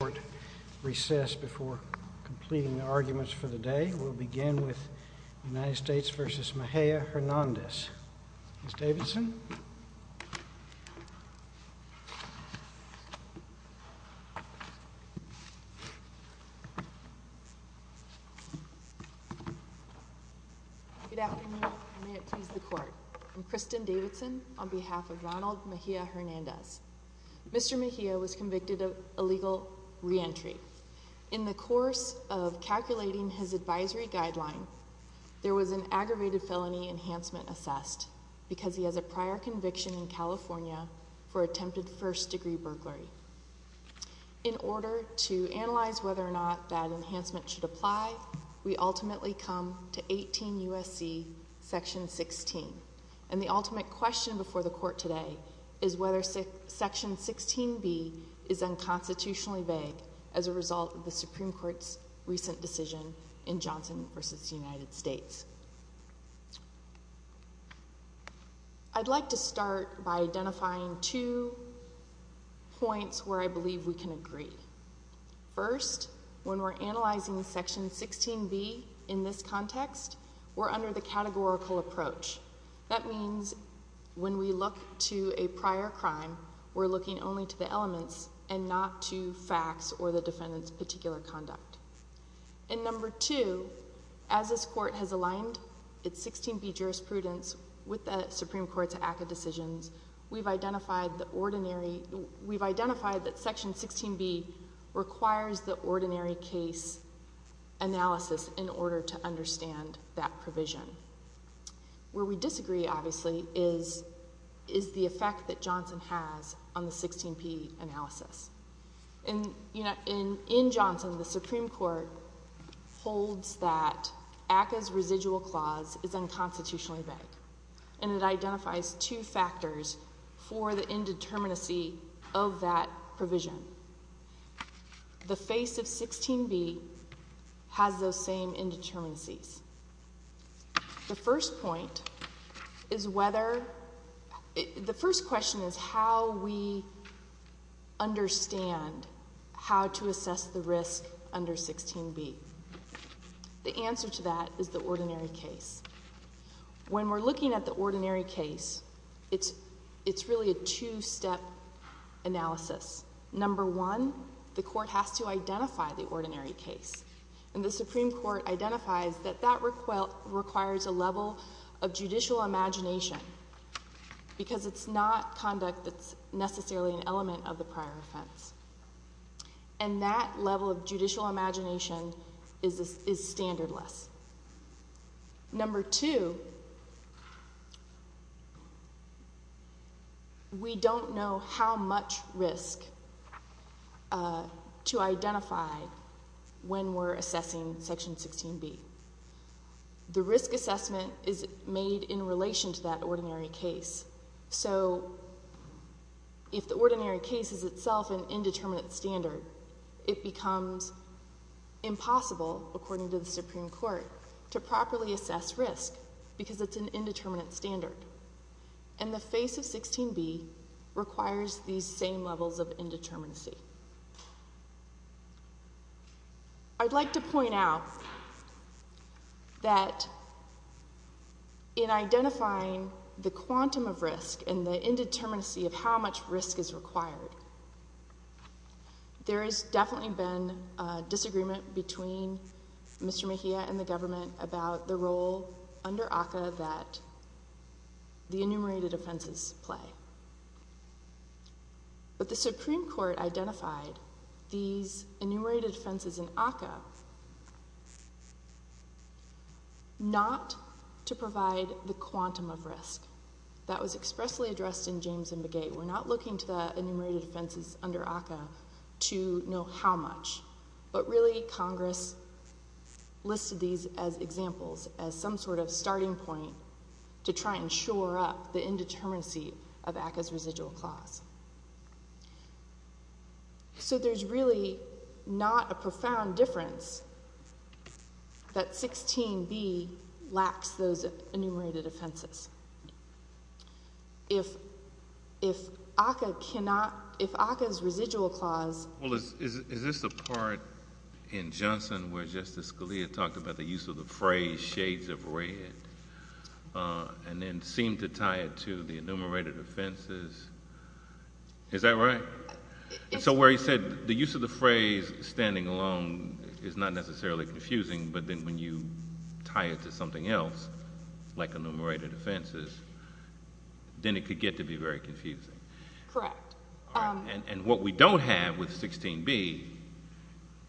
The court recessed before completing the arguments for the day. We'll begin with United States v. Mejia-Hernandez. Ms. Davidson? Good afternoon and may it please the court. I'm Kristen Davidson on behalf of Ronald Mejia-Hernandez. Mr. Mejia was convicted of illegal reentry. In the course of calculating his advisory guideline, there was an aggravated felony enhancement assessed because he has a prior conviction in California for attempted first degree burglary. In order to analyze whether or not that enhancement should apply, we ultimately come to 18 U.S.C. section 16. And the ultimate question before the court today is whether section 16b is unconstitutionally vague as a result of the Supreme Court's recent decision in Johnson v. United States. I'd like to start by identifying two points where I believe we can agree. First, when we're analyzing section 16b in this context, we're under the categorical approach. That means when we look to a prior crime, we're looking only to the elements and not to facts or the defendant's particular conduct. And number two, as this court has aligned its 16b jurisprudence with the Supreme Court's ACCA decisions, we've identified that section 16b requires the ordinary case analysis in order to understand that provision. Where we disagree, obviously, is the effect that Johnson has on the 16p analysis. In Johnson, the Supreme Court holds that ACCA's residual clause is unconstitutionally vague. And it identifies two factors for the indeterminacy of that provision. The face of 16b has those same indeterminacies. The first point is whether, the first question is how we understand how to assess the risk under 16b. The answer to that is the ordinary case. When we're looking at the ordinary case, it's really a two-step analysis. Number one, the court has to identify the ordinary case. And the Supreme Court identifies that that requires a level of judicial imagination because it's not conduct that's necessarily an element of the prior offense. And that level of judicial imagination is standardless. Number two, we don't know how much risk to identify when we're assessing section 16b. The risk assessment is made in relation to that ordinary case. So, if the ordinary case is itself an indeterminate standard, it becomes impossible, according to the Supreme Court, to properly assess risk because it's an indeterminate standard. And the face of 16b requires these same levels of indeterminacy. I'd like to point out that in identifying the quantum of risk and the indeterminacy of how much risk is required, there has definitely been a disagreement between Mr. Mejia and the government about the role under ACCA that the enumerated offenses play. But the Supreme Court identified these enumerated offenses in ACCA not to provide the quantum of risk. That was expressly addressed in James and Begay. We're not looking to the enumerated offenses under ACCA to know how much. But really, Congress listed these as examples, as some sort of starting point to try and shore up the indeterminacy of ACCA's residual clause. So there's really not a profound difference that 16b lacks those enumerated offenses. If ACCA cannot—if ACCA's residual clause— Is this the part in Johnson where Justice Scalia talked about the use of the phrase, shades of red, and then seemed to tie it to the enumerated offenses? Is that right? So where he said the use of the phrase, standing alone, is not necessarily confusing, but then when you tie it to something else, like enumerated offenses, then it could get to be very confusing. Correct. And what we don't have with 16b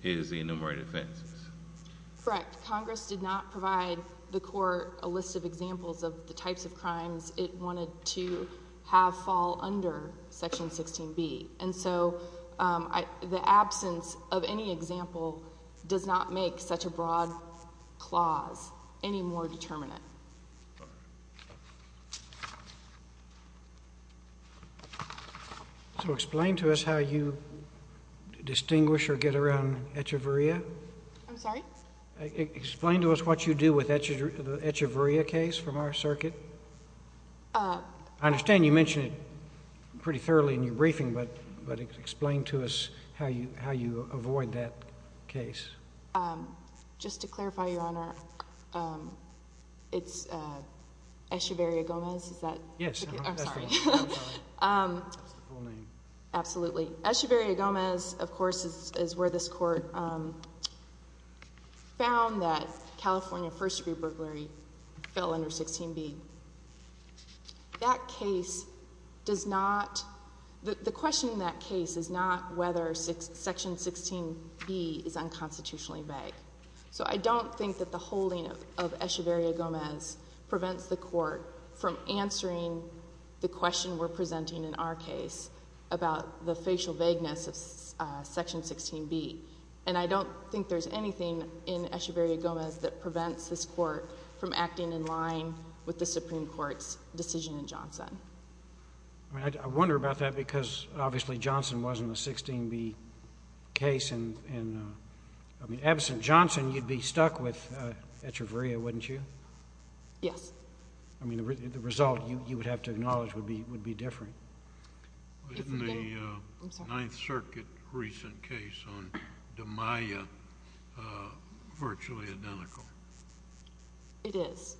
is the enumerated offenses. Correct. Congress did not provide the Court a list of examples of the types of crimes it wanted to have fall under Section 16b. And so the absence of any example does not make such a broad clause any more determinate. So explain to us how you distinguish or get around echeverria. I'm sorry? Explain to us what you do with the echeverria case from our circuit. I understand you mentioned it pretty thoroughly in your briefing, but explain to us how you avoid that case. Just to clarify, Your Honor, it's Echeverria-Gomez? Yes. I'm sorry. That's the full name. Absolutely. Echeverria-Gomez, of course, is where this Court found that California first-degree burglary fell under 16b. That case does not, the question in that case is not whether Section 16b is unconstitutionally vague. So I don't think that the holding of Echeverria-Gomez prevents the Court from answering the question we're presenting in our case about the facial vagueness of Section 16b. And I don't think there's anything in Echeverria-Gomez that prevents this Court from acting in line with the Supreme Court's decision in Johnson. I wonder about that because, obviously, Johnson wasn't a 16b case and, I mean, absent Johnson, you'd be stuck with Echeverria, wouldn't you? Yes. I mean, the result you would have to acknowledge would be different. Isn't the Ninth Circuit recent case on DiMaia virtually identical? It is.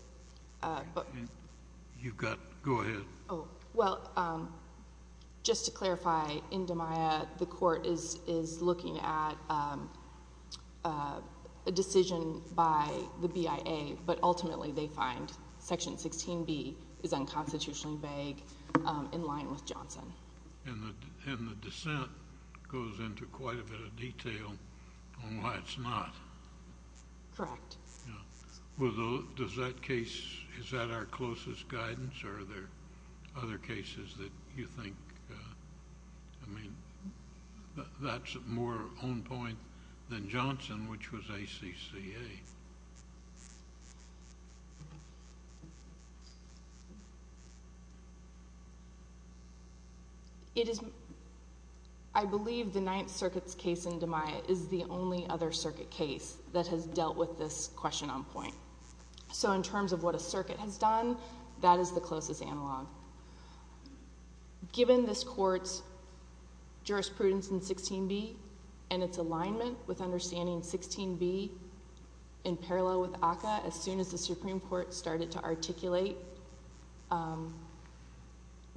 You've got, go ahead. Oh, well, just to clarify, in DiMaia, the Court is looking at a decision by the BIA, but ultimately they find Section 16b is unconstitutionally vague in line with Johnson. And the dissent goes into quite a bit of detail on why it's not. Correct. Well, does that case, is that our closest guidance, or are there other cases that you think, I mean, that's more on point than Johnson, which was ACCA? I believe the Ninth Circuit's case in DiMaia is the only other circuit case that has dealt with this question on point. So in terms of what a circuit has done, that is the closest analog. Given this Court's jurisprudence in 16b and its alignment with understanding 16b in parallel with ACCA as soon as the Supreme Court started to articulate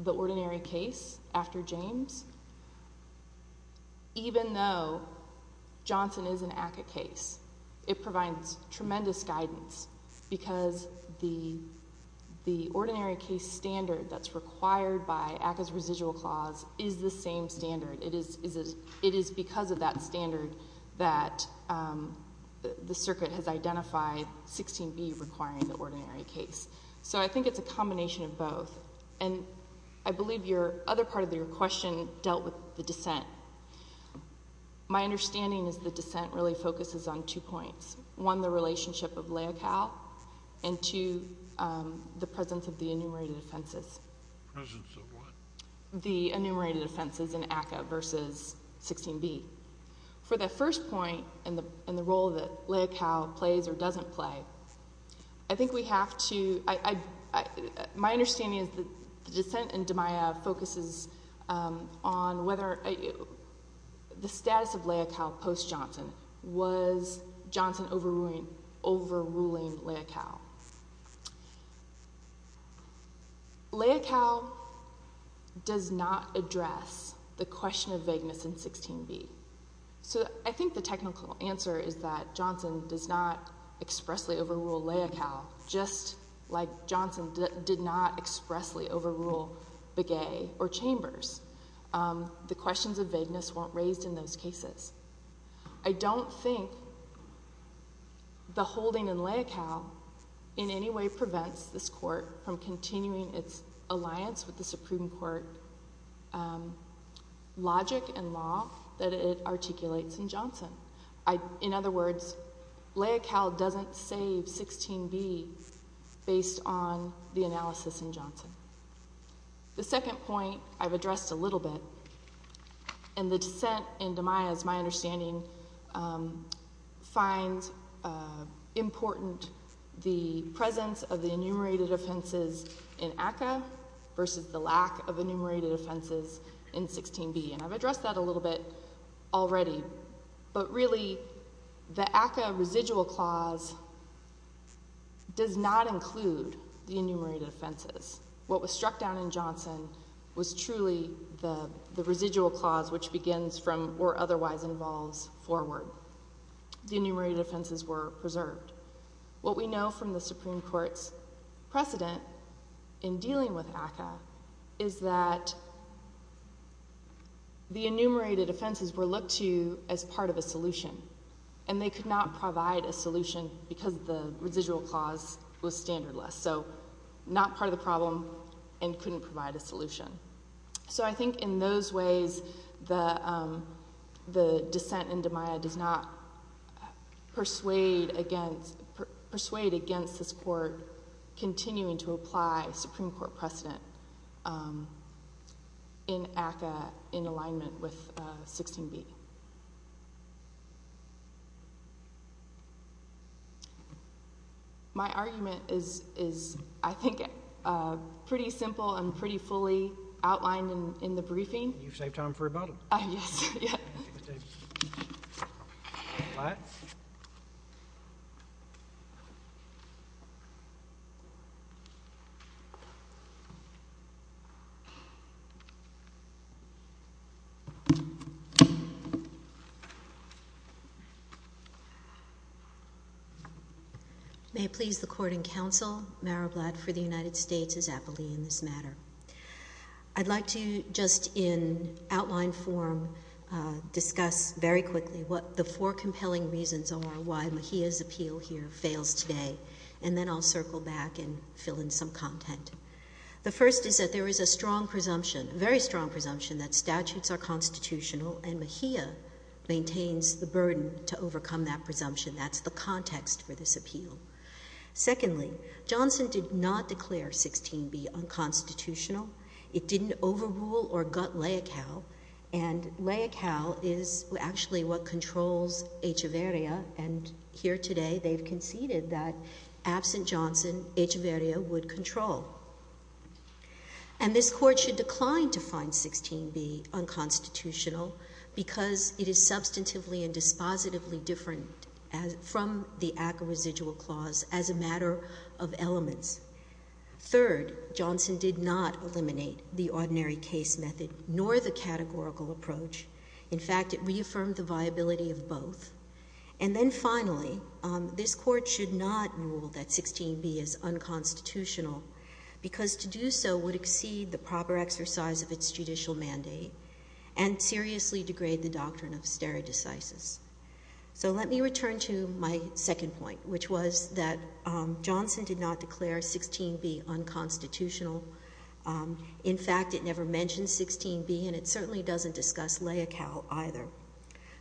the ordinary case after James, even though Johnson is an ACCA case, it provides tremendous guidance because the ordinary case standard that's required by ACCA's residual clause is the same standard. It is because of that standard that the Circuit has identified 16b requiring the ordinary case. So I think it's a combination of both. And I believe your other part of your question dealt with the dissent. My understanding is the dissent really focuses on two points. One, the relationship of Leocal, and two, the presence of the enumerated offenses. Presence of what? The enumerated offenses in ACCA versus 16b. For that first point, and the role that Leocal plays or doesn't play, I think we have to—my understanding is that the dissent in DiMaia focuses on whether the status of Leocal post-Johnson. Was Johnson overruling Leocal? Leocal does not address the question of vagueness in 16b. So I think the technical answer is that Johnson does not expressly overrule Leocal, just like Johnson did not expressly overrule Begay or Chambers. The questions of vagueness weren't raised in those cases. I don't think the holding in Leocal in any way prevents this court from continuing its alliance with the Supreme Court logic and law that it articulates in Johnson. In other words, Leocal doesn't save 16b based on the analysis in Johnson. The second point I've addressed a little bit, and the dissent in DiMaia is my understanding, finds important the presence of the enumerated offenses in ACCA versus the lack of enumerated offenses in 16b. And I've addressed that a little bit already. But really, the ACCA residual clause does not include the enumerated offenses. What was struck down in Johnson was truly the residual clause which begins from or otherwise involves forward. The enumerated offenses were preserved. What we know from the Supreme Court's precedent in dealing with ACCA is that the enumerated offenses were looked to as part of a solution. And they could not provide a solution because the residual clause was standardless. So not part of the problem and couldn't provide a solution. So I think in those ways, the dissent in DiMaia does not persuade against this court continuing to apply Supreme Court precedent in ACCA in alignment with 16b. My argument is, I think, pretty simple and pretty fully outlined in the briefing. You've saved time for rebuttal. Yes. May it please the court and counsel, Mara Blatt for the United States is aptly in this matter. I'd like to just in outline form discuss very quickly what the four compelling reasons are why Mahia's appeal here fails today. And then I'll circle back and fill in some content. The first is that there is a strong presumption, a very strong presumption that statutes are constitutional and Mahia maintains the burden to overcome that presumption. Secondly, Johnson did not declare 16b unconstitutional. It didn't overrule or gut Leocal. And Leocal is actually what controls Echeverria. And here today, they've conceded that absent Johnson, Echeverria would control. And this court should decline to find 16b unconstitutional because it is substantively and dispositively different from the ACCA residual clause as a matter of elements. Third, Johnson did not eliminate the ordinary case method nor the categorical approach. In fact, it reaffirmed the viability of both. And then finally, this court should not rule that 16b is unconstitutional because to do so would exceed the proper exercise of its judicial mandate and seriously degrade the doctrine of stare decisis. So let me return to my second point, which was that Johnson did not declare 16b unconstitutional. In fact, it never mentioned 16b and it certainly doesn't discuss Leocal either.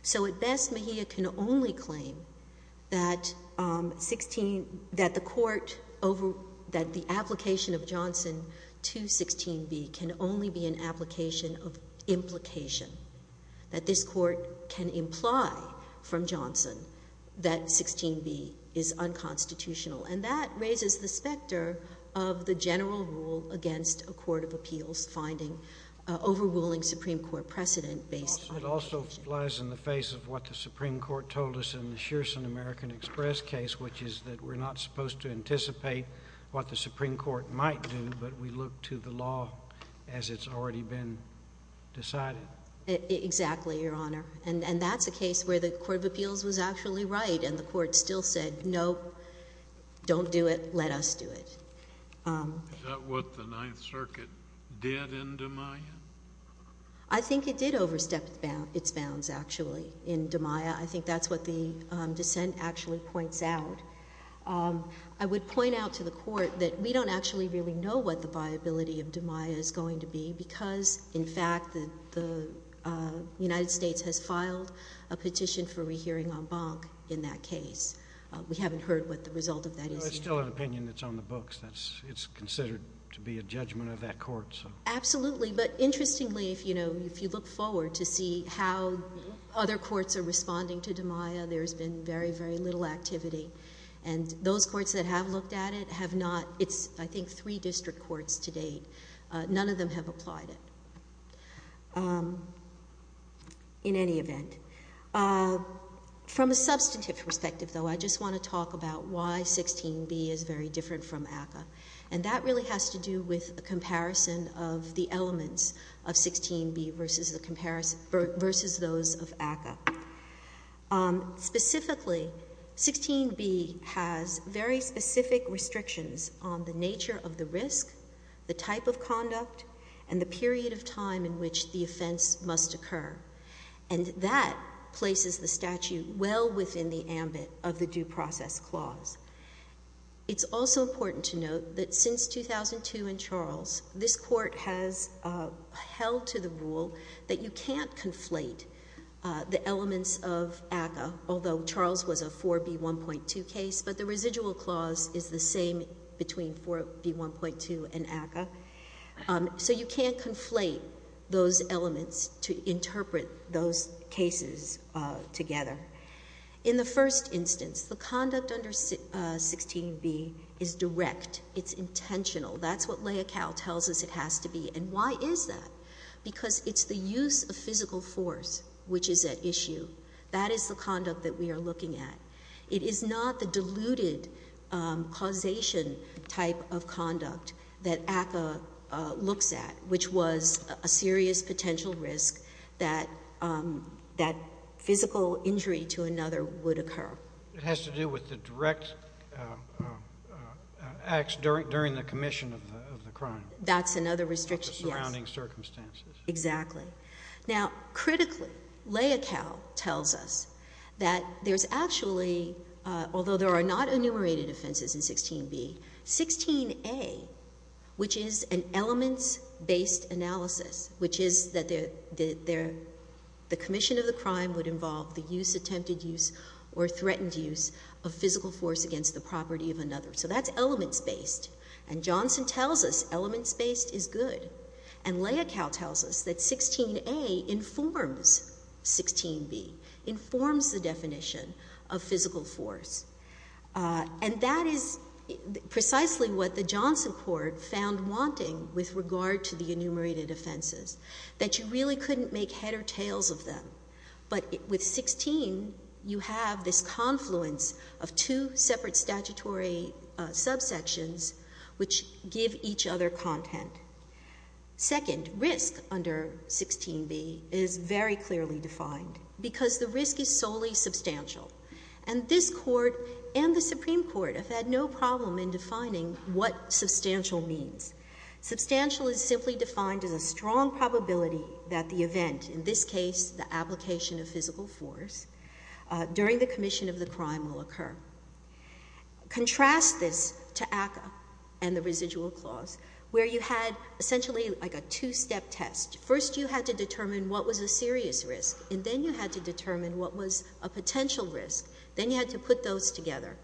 So at best, Mejia can only claim that 16, that the court over, that the application of Johnson to 16b can only be an application of implication. That this court can imply from Johnson that 16b is unconstitutional. And that raises the specter of the general rule against a court of appeals finding overruling Supreme Court precedent based on it. It also flies in the face of what the Supreme Court told us in the Shearson American Express case, which is that we're not supposed to anticipate what the Supreme Court might do, but we look to the law as it's already been decided. Exactly, Your Honor. And that's a case where the court of appeals was actually right and the court still said, no, don't do it, let us do it. Is that what the Ninth Circuit did in Damien? I think it did overstep its bounds, actually, in Damien. I think that's what the dissent actually points out. I would point out to the court that we don't actually really know what the viability of Damien is going to be because, in fact, the United States has filed a petition for rehearing en banc in that case. We haven't heard what the result of that is yet. It's still an opinion that's on the books. It's considered to be a judgment of that court. Absolutely. But interestingly, if you look forward to see how other courts are responding to Damien, there's been very, very little activity. And those courts that have looked at it have not. It's, I think, three district courts to date. None of them have applied it in any event. From a substantive perspective, though, I just want to talk about why 16b is very different from ACCA. And that really has to do with a comparison of the elements of 16b versus those of ACCA. Specifically, 16b has very specific restrictions on the nature of the risk, the type of conduct, and the period of time in which the offense must occur. And that places the statute well within the ambit of the Due Process Clause. It's also important to note that since 2002 in Charles, this court has held to the rule that you can't conflate the elements of ACCA, although Charles was a 4b1.2 case, but the residual clause is the same between 4b1.2 and ACCA. So you can't conflate those elements to interpret those cases together. In the first instance, the conduct under 16b is direct. It's intentional. That's what Leocal tells us it has to be. And why is that? Because it's the use of physical force which is at issue. That is the conduct that we are looking at. It is not the diluted causation type of conduct that ACCA looks at, which was a serious potential risk that physical injury to another would occur. It has to do with the direct acts during the commission of the crime. That's another restriction, yes. The surrounding circumstances. Exactly. Now, critically, Leocal tells us that there's actually, although there are not enumerated offenses in 16b, 16a, which is an elements-based analysis, which is that the commission of the crime would involve the use, attempted use, or threatened use of physical force against the property of another. So that's elements-based. And Johnson tells us elements-based is good. And Leocal tells us that 16a informs 16b, informs the definition of physical force. And that is precisely what the Johnson court found wanting with regard to the enumerated offenses, that you really couldn't make head or tails of them. But with 16, you have this confluence of two separate statutory subsections which give each other content. Second, risk under 16b is very clearly defined because the risk is solely substantial. And this court and the Supreme Court have had no problem in defining what substantial means. Substantial is simply defined as a strong probability that the event, in this case the application of physical force, during the commission of the crime will occur. Contrast this to ACCA and the residual clause, where you had essentially like a two-step test. First you had to determine what was a serious risk, and then you had to determine what was a potential risk. Then you had to put those together.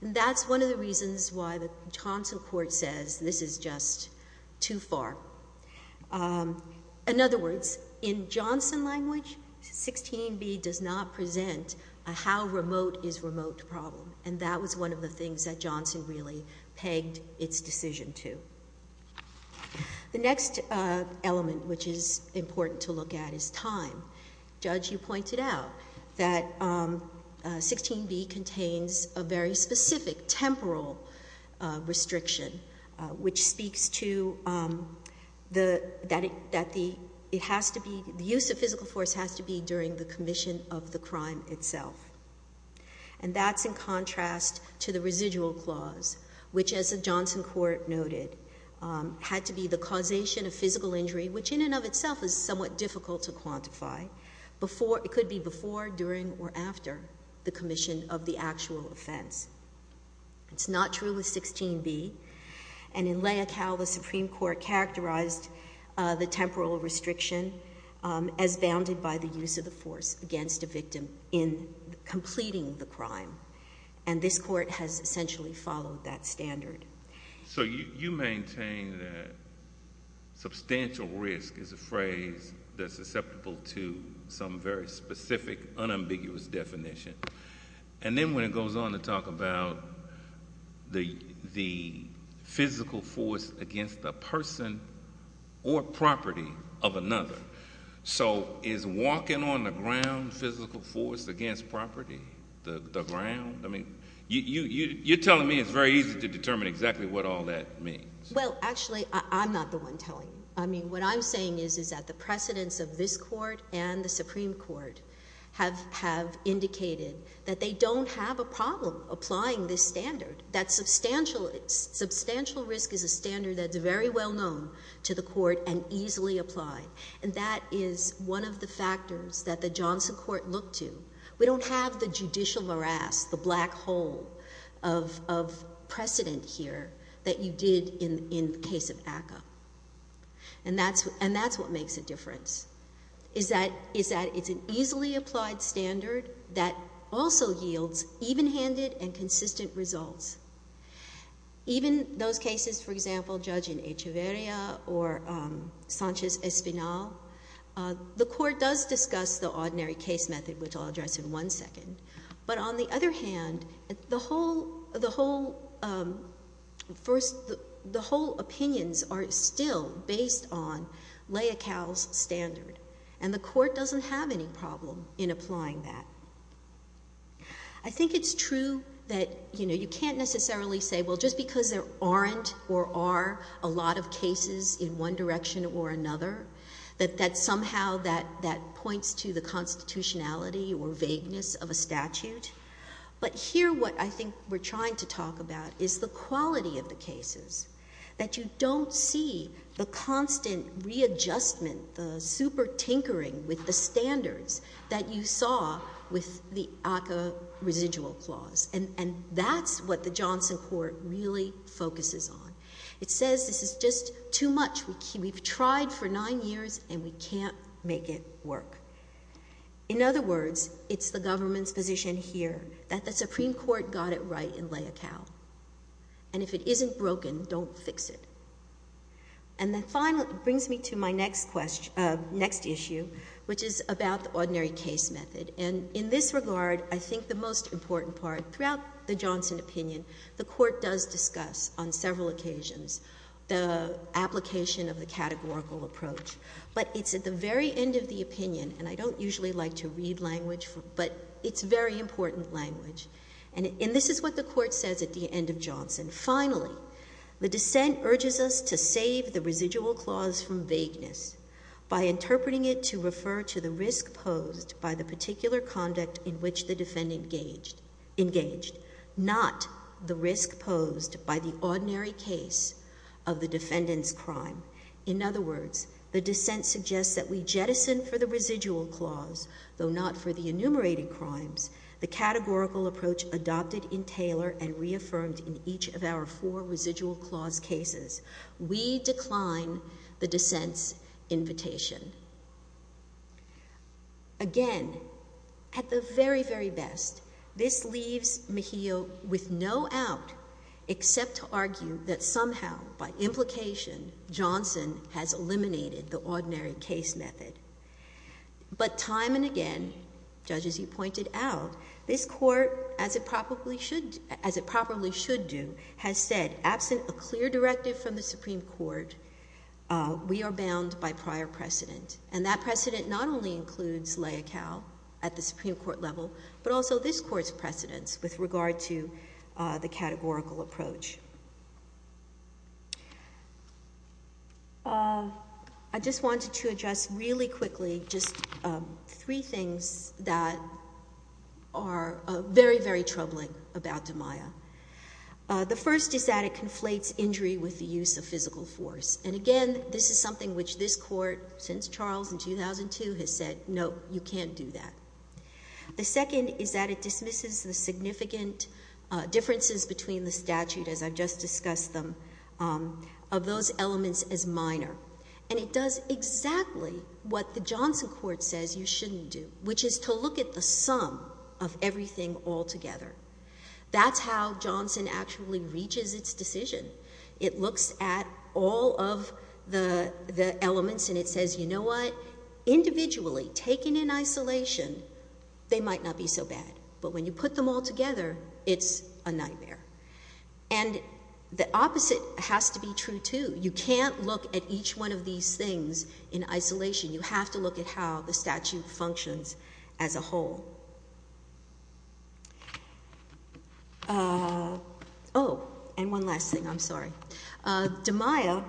And that's one of the reasons why the Johnson court says this is just too far. In other words, in Johnson language, 16b does not present a how remote is remote problem. And that was one of the things that Johnson really pegged its decision to. The next element which is important to look at is time. Judge, you pointed out that 16b contains a very specific temporal restriction which speaks to that the use of physical force has to be during the commission of the crime itself. And that's in contrast to the residual clause, which as the Johnson court noted had to be the causation of physical injury, which in and of itself is somewhat difficult to quantify. It could be before, during, or after the commission of the actual offense. It's not true with 16b. And in Lea Cal, the Supreme Court characterized the temporal restriction as bounded by the use of the force against a victim in completing the crime. And this court has essentially followed that standard. So you maintain that substantial risk is a phrase that's susceptible to some very specific, unambiguous definition. And then when it goes on to talk about the physical force against a person or property of another. So is walking on the ground physical force against property, the ground? I mean, you're telling me it's very easy to determine exactly what all that means. Well, actually, I'm not the one telling you. I mean, what I'm saying is that the precedence of this court and the Supreme Court have indicated that they don't have a problem applying this standard. That substantial risk is a standard that's very well known to the court and easily applied. And that is one of the factors that the Johnson court looked to. We don't have the judicial morass, the black hole of precedent here that you did in the case of ACCA. And that's what makes a difference, is that it's an easily applied standard that also yields even-handed and consistent results. Even those cases, for example, judge in Echeverria or Sanchez-Espinal, the court does discuss the ordinary case method, which I'll address in one second. But on the other hand, the whole opinions are still based on Leocal's standard, and the court doesn't have any problem in applying that. I think it's true that you can't necessarily say, well, just because there aren't or are a lot of cases in one direction or another, that somehow that points to the constitutionality or vagueness of a statute. But here what I think we're trying to talk about is the quality of the cases, that you don't see the constant readjustment, the super-tinkering with the standards that you saw with the ACCA residual clause. And that's what the Johnson court really focuses on. It says this is just too much. We've tried for nine years, and we can't make it work. In other words, it's the government's position here that the Supreme Court got it right in Leocal. And if it isn't broken, don't fix it. And that finally brings me to my next issue, which is about the ordinary case method. And in this regard, I think the most important part throughout the Johnson opinion, the court does discuss on several occasions the application of the categorical approach. But it's at the very end of the opinion, and I don't usually like to read language, but it's very important language. And this is what the court says at the end of Johnson. Finally, the dissent urges us to save the residual clause from vagueness by interpreting it to refer to the risk posed by the particular conduct in which the defendant engaged, not the risk posed by the ordinary case of the defendant's crime. In other words, the dissent suggests that we jettison for the residual clause, though not for the enumerated crimes, the categorical approach adopted in Taylor and reaffirmed in each of our four residual clause cases. We decline the dissent's invitation. Again, at the very, very best, this leaves Mejia with no out except to argue that somehow, by implication, Johnson has eliminated the ordinary case method. But time and again, Judge, as you pointed out, this court, as it probably should do, has said, absent a clear directive from the Supreme Court, we are bound by prior precedent. And that precedent not only includes Leocal at the Supreme Court level, but also this court's precedents with regard to the categorical approach. I just wanted to address really quickly just three things that are very, very troubling about DiMaia. The first is that it conflates injury with the use of physical force. And again, this is something which this court, since Charles in 2002, has said, no, you can't do that. The second is that it dismisses the significant differences between the statute, as I've just discussed them, of those elements as minor. And it does exactly what the Johnson court says you shouldn't do, which is to look at the sum of everything all together. That's how Johnson actually reaches its decision. It looks at all of the elements, and it says, you know what? Individually, taken in isolation, they might not be so bad. But when you put them all together, it's a nightmare. And the opposite has to be true, too. You can't look at each one of these things in isolation. You have to look at how the statute functions as a whole. Oh, and one last thing, I'm sorry. DiMaia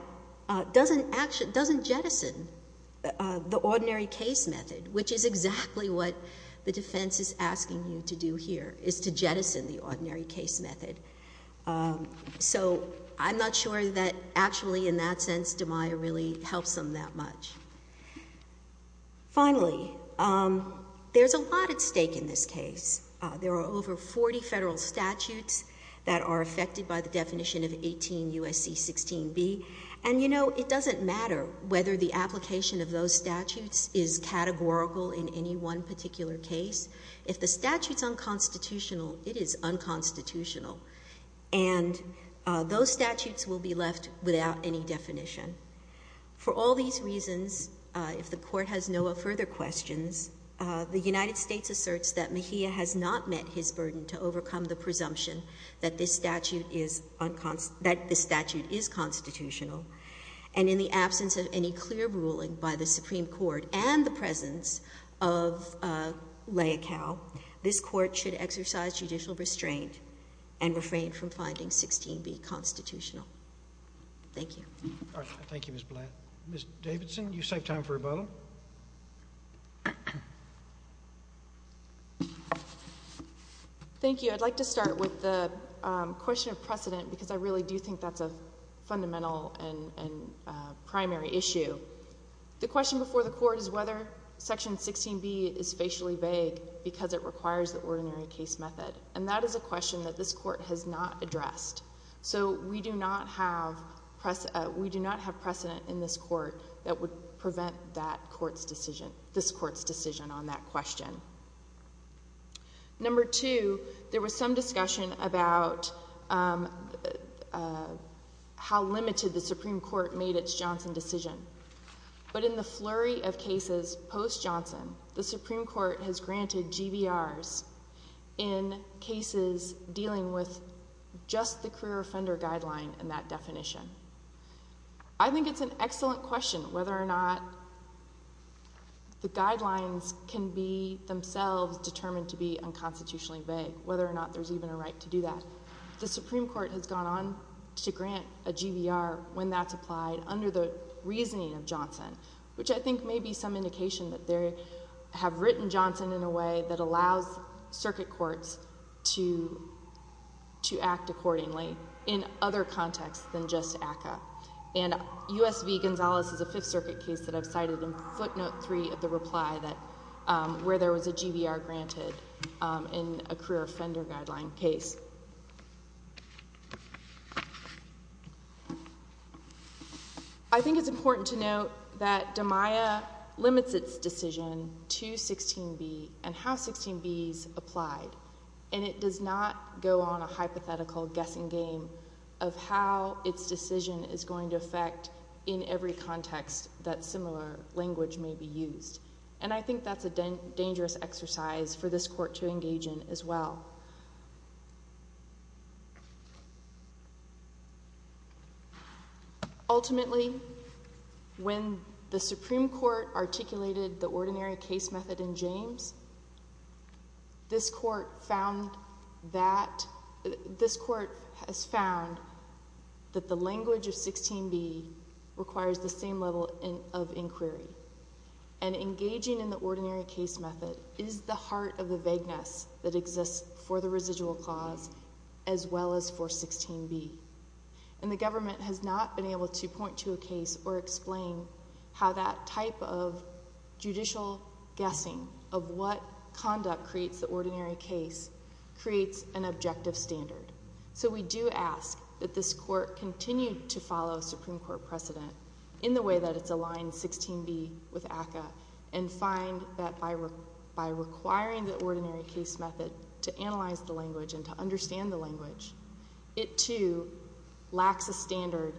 doesn't jettison the ordinary case method, which is exactly what the defense is asking you to do here, is to jettison the ordinary case method. So I'm not sure that actually, in that sense, DiMaia really helps them that much. Finally, there's a lot at stake in this case. There are over 40 federal statutes that are affected by the definition of 18 U.S.C. 16b. And, you know, it doesn't matter whether the application of those statutes is categorical in any one particular case. If the statute's unconstitutional, it is unconstitutional. And those statutes will be left without any definition. For all these reasons, if the Court has no further questions, the United States asserts that Mahia has not met his burden to overcome the presumption that this statute is constitutional. And in the absence of any clear ruling by the Supreme Court and the presence of lay account, this Court should exercise judicial restraint and refrain from finding 16b constitutional. Thank you. Thank you, Ms. Blatt. Ms. Davidson, you save time for rebuttal. Thank you. I'd like to start with the question of precedent because I really do think that's a fundamental and primary issue. The question before the Court is whether Section 16b is facially vague because it requires the ordinary case method. And that is a question that this Court has not addressed. So we do not have precedent in this Court that would prevent this Court's decision on that question. Number two, there was some discussion about how limited the Supreme Court made its Johnson decision. But in the flurry of cases post-Johnson, the Supreme Court has granted GVRs in cases dealing with just the career offender guideline and that definition. I think it's an excellent question whether or not the guidelines can be themselves determined to be unconstitutionally vague, whether or not there's even a right to do that. The Supreme Court has gone on to grant a GVR when that's applied under the reasoning of Johnson, which I think may be some indication that they have written Johnson in a way that allows circuit courts to act accordingly in other contexts than just ACCA. And U.S. v. Gonzales is a Fifth Circuit case that I've cited in footnote 3 of the reply where there was a GVR granted in a career offender guideline case. I think it's important to note that DMIA limits its decision to 16b and how 16b is applied. And it does not go on a hypothetical guessing game of how its decision is going to affect in every context that similar language may be used. And I think that's a dangerous exercise for this court to engage in as well. Ultimately, when the Supreme Court articulated the ordinary case method in James, this court has found that the language of 16b requires the same level of inquiry and engaging in the ordinary case method is the heart of the vagueness that exists for the residual clause as well as for 16b. And the government has not been able to point to a case or explain how that type of judicial guessing of what conduct creates the ordinary case creates an objective standard. So we do ask that this court continue to follow Supreme Court precedent in the way that it's aligned 16b with ACCA and find that by requiring the ordinary case method to analyze the language and to understand the language, it too lacks a standard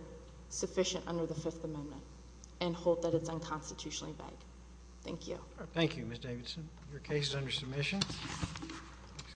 sufficient under the Fifth Amendment and hold that it's unconstitutionally vague. Thank you. Thank you, Ms. Davidson. Your case is under submission.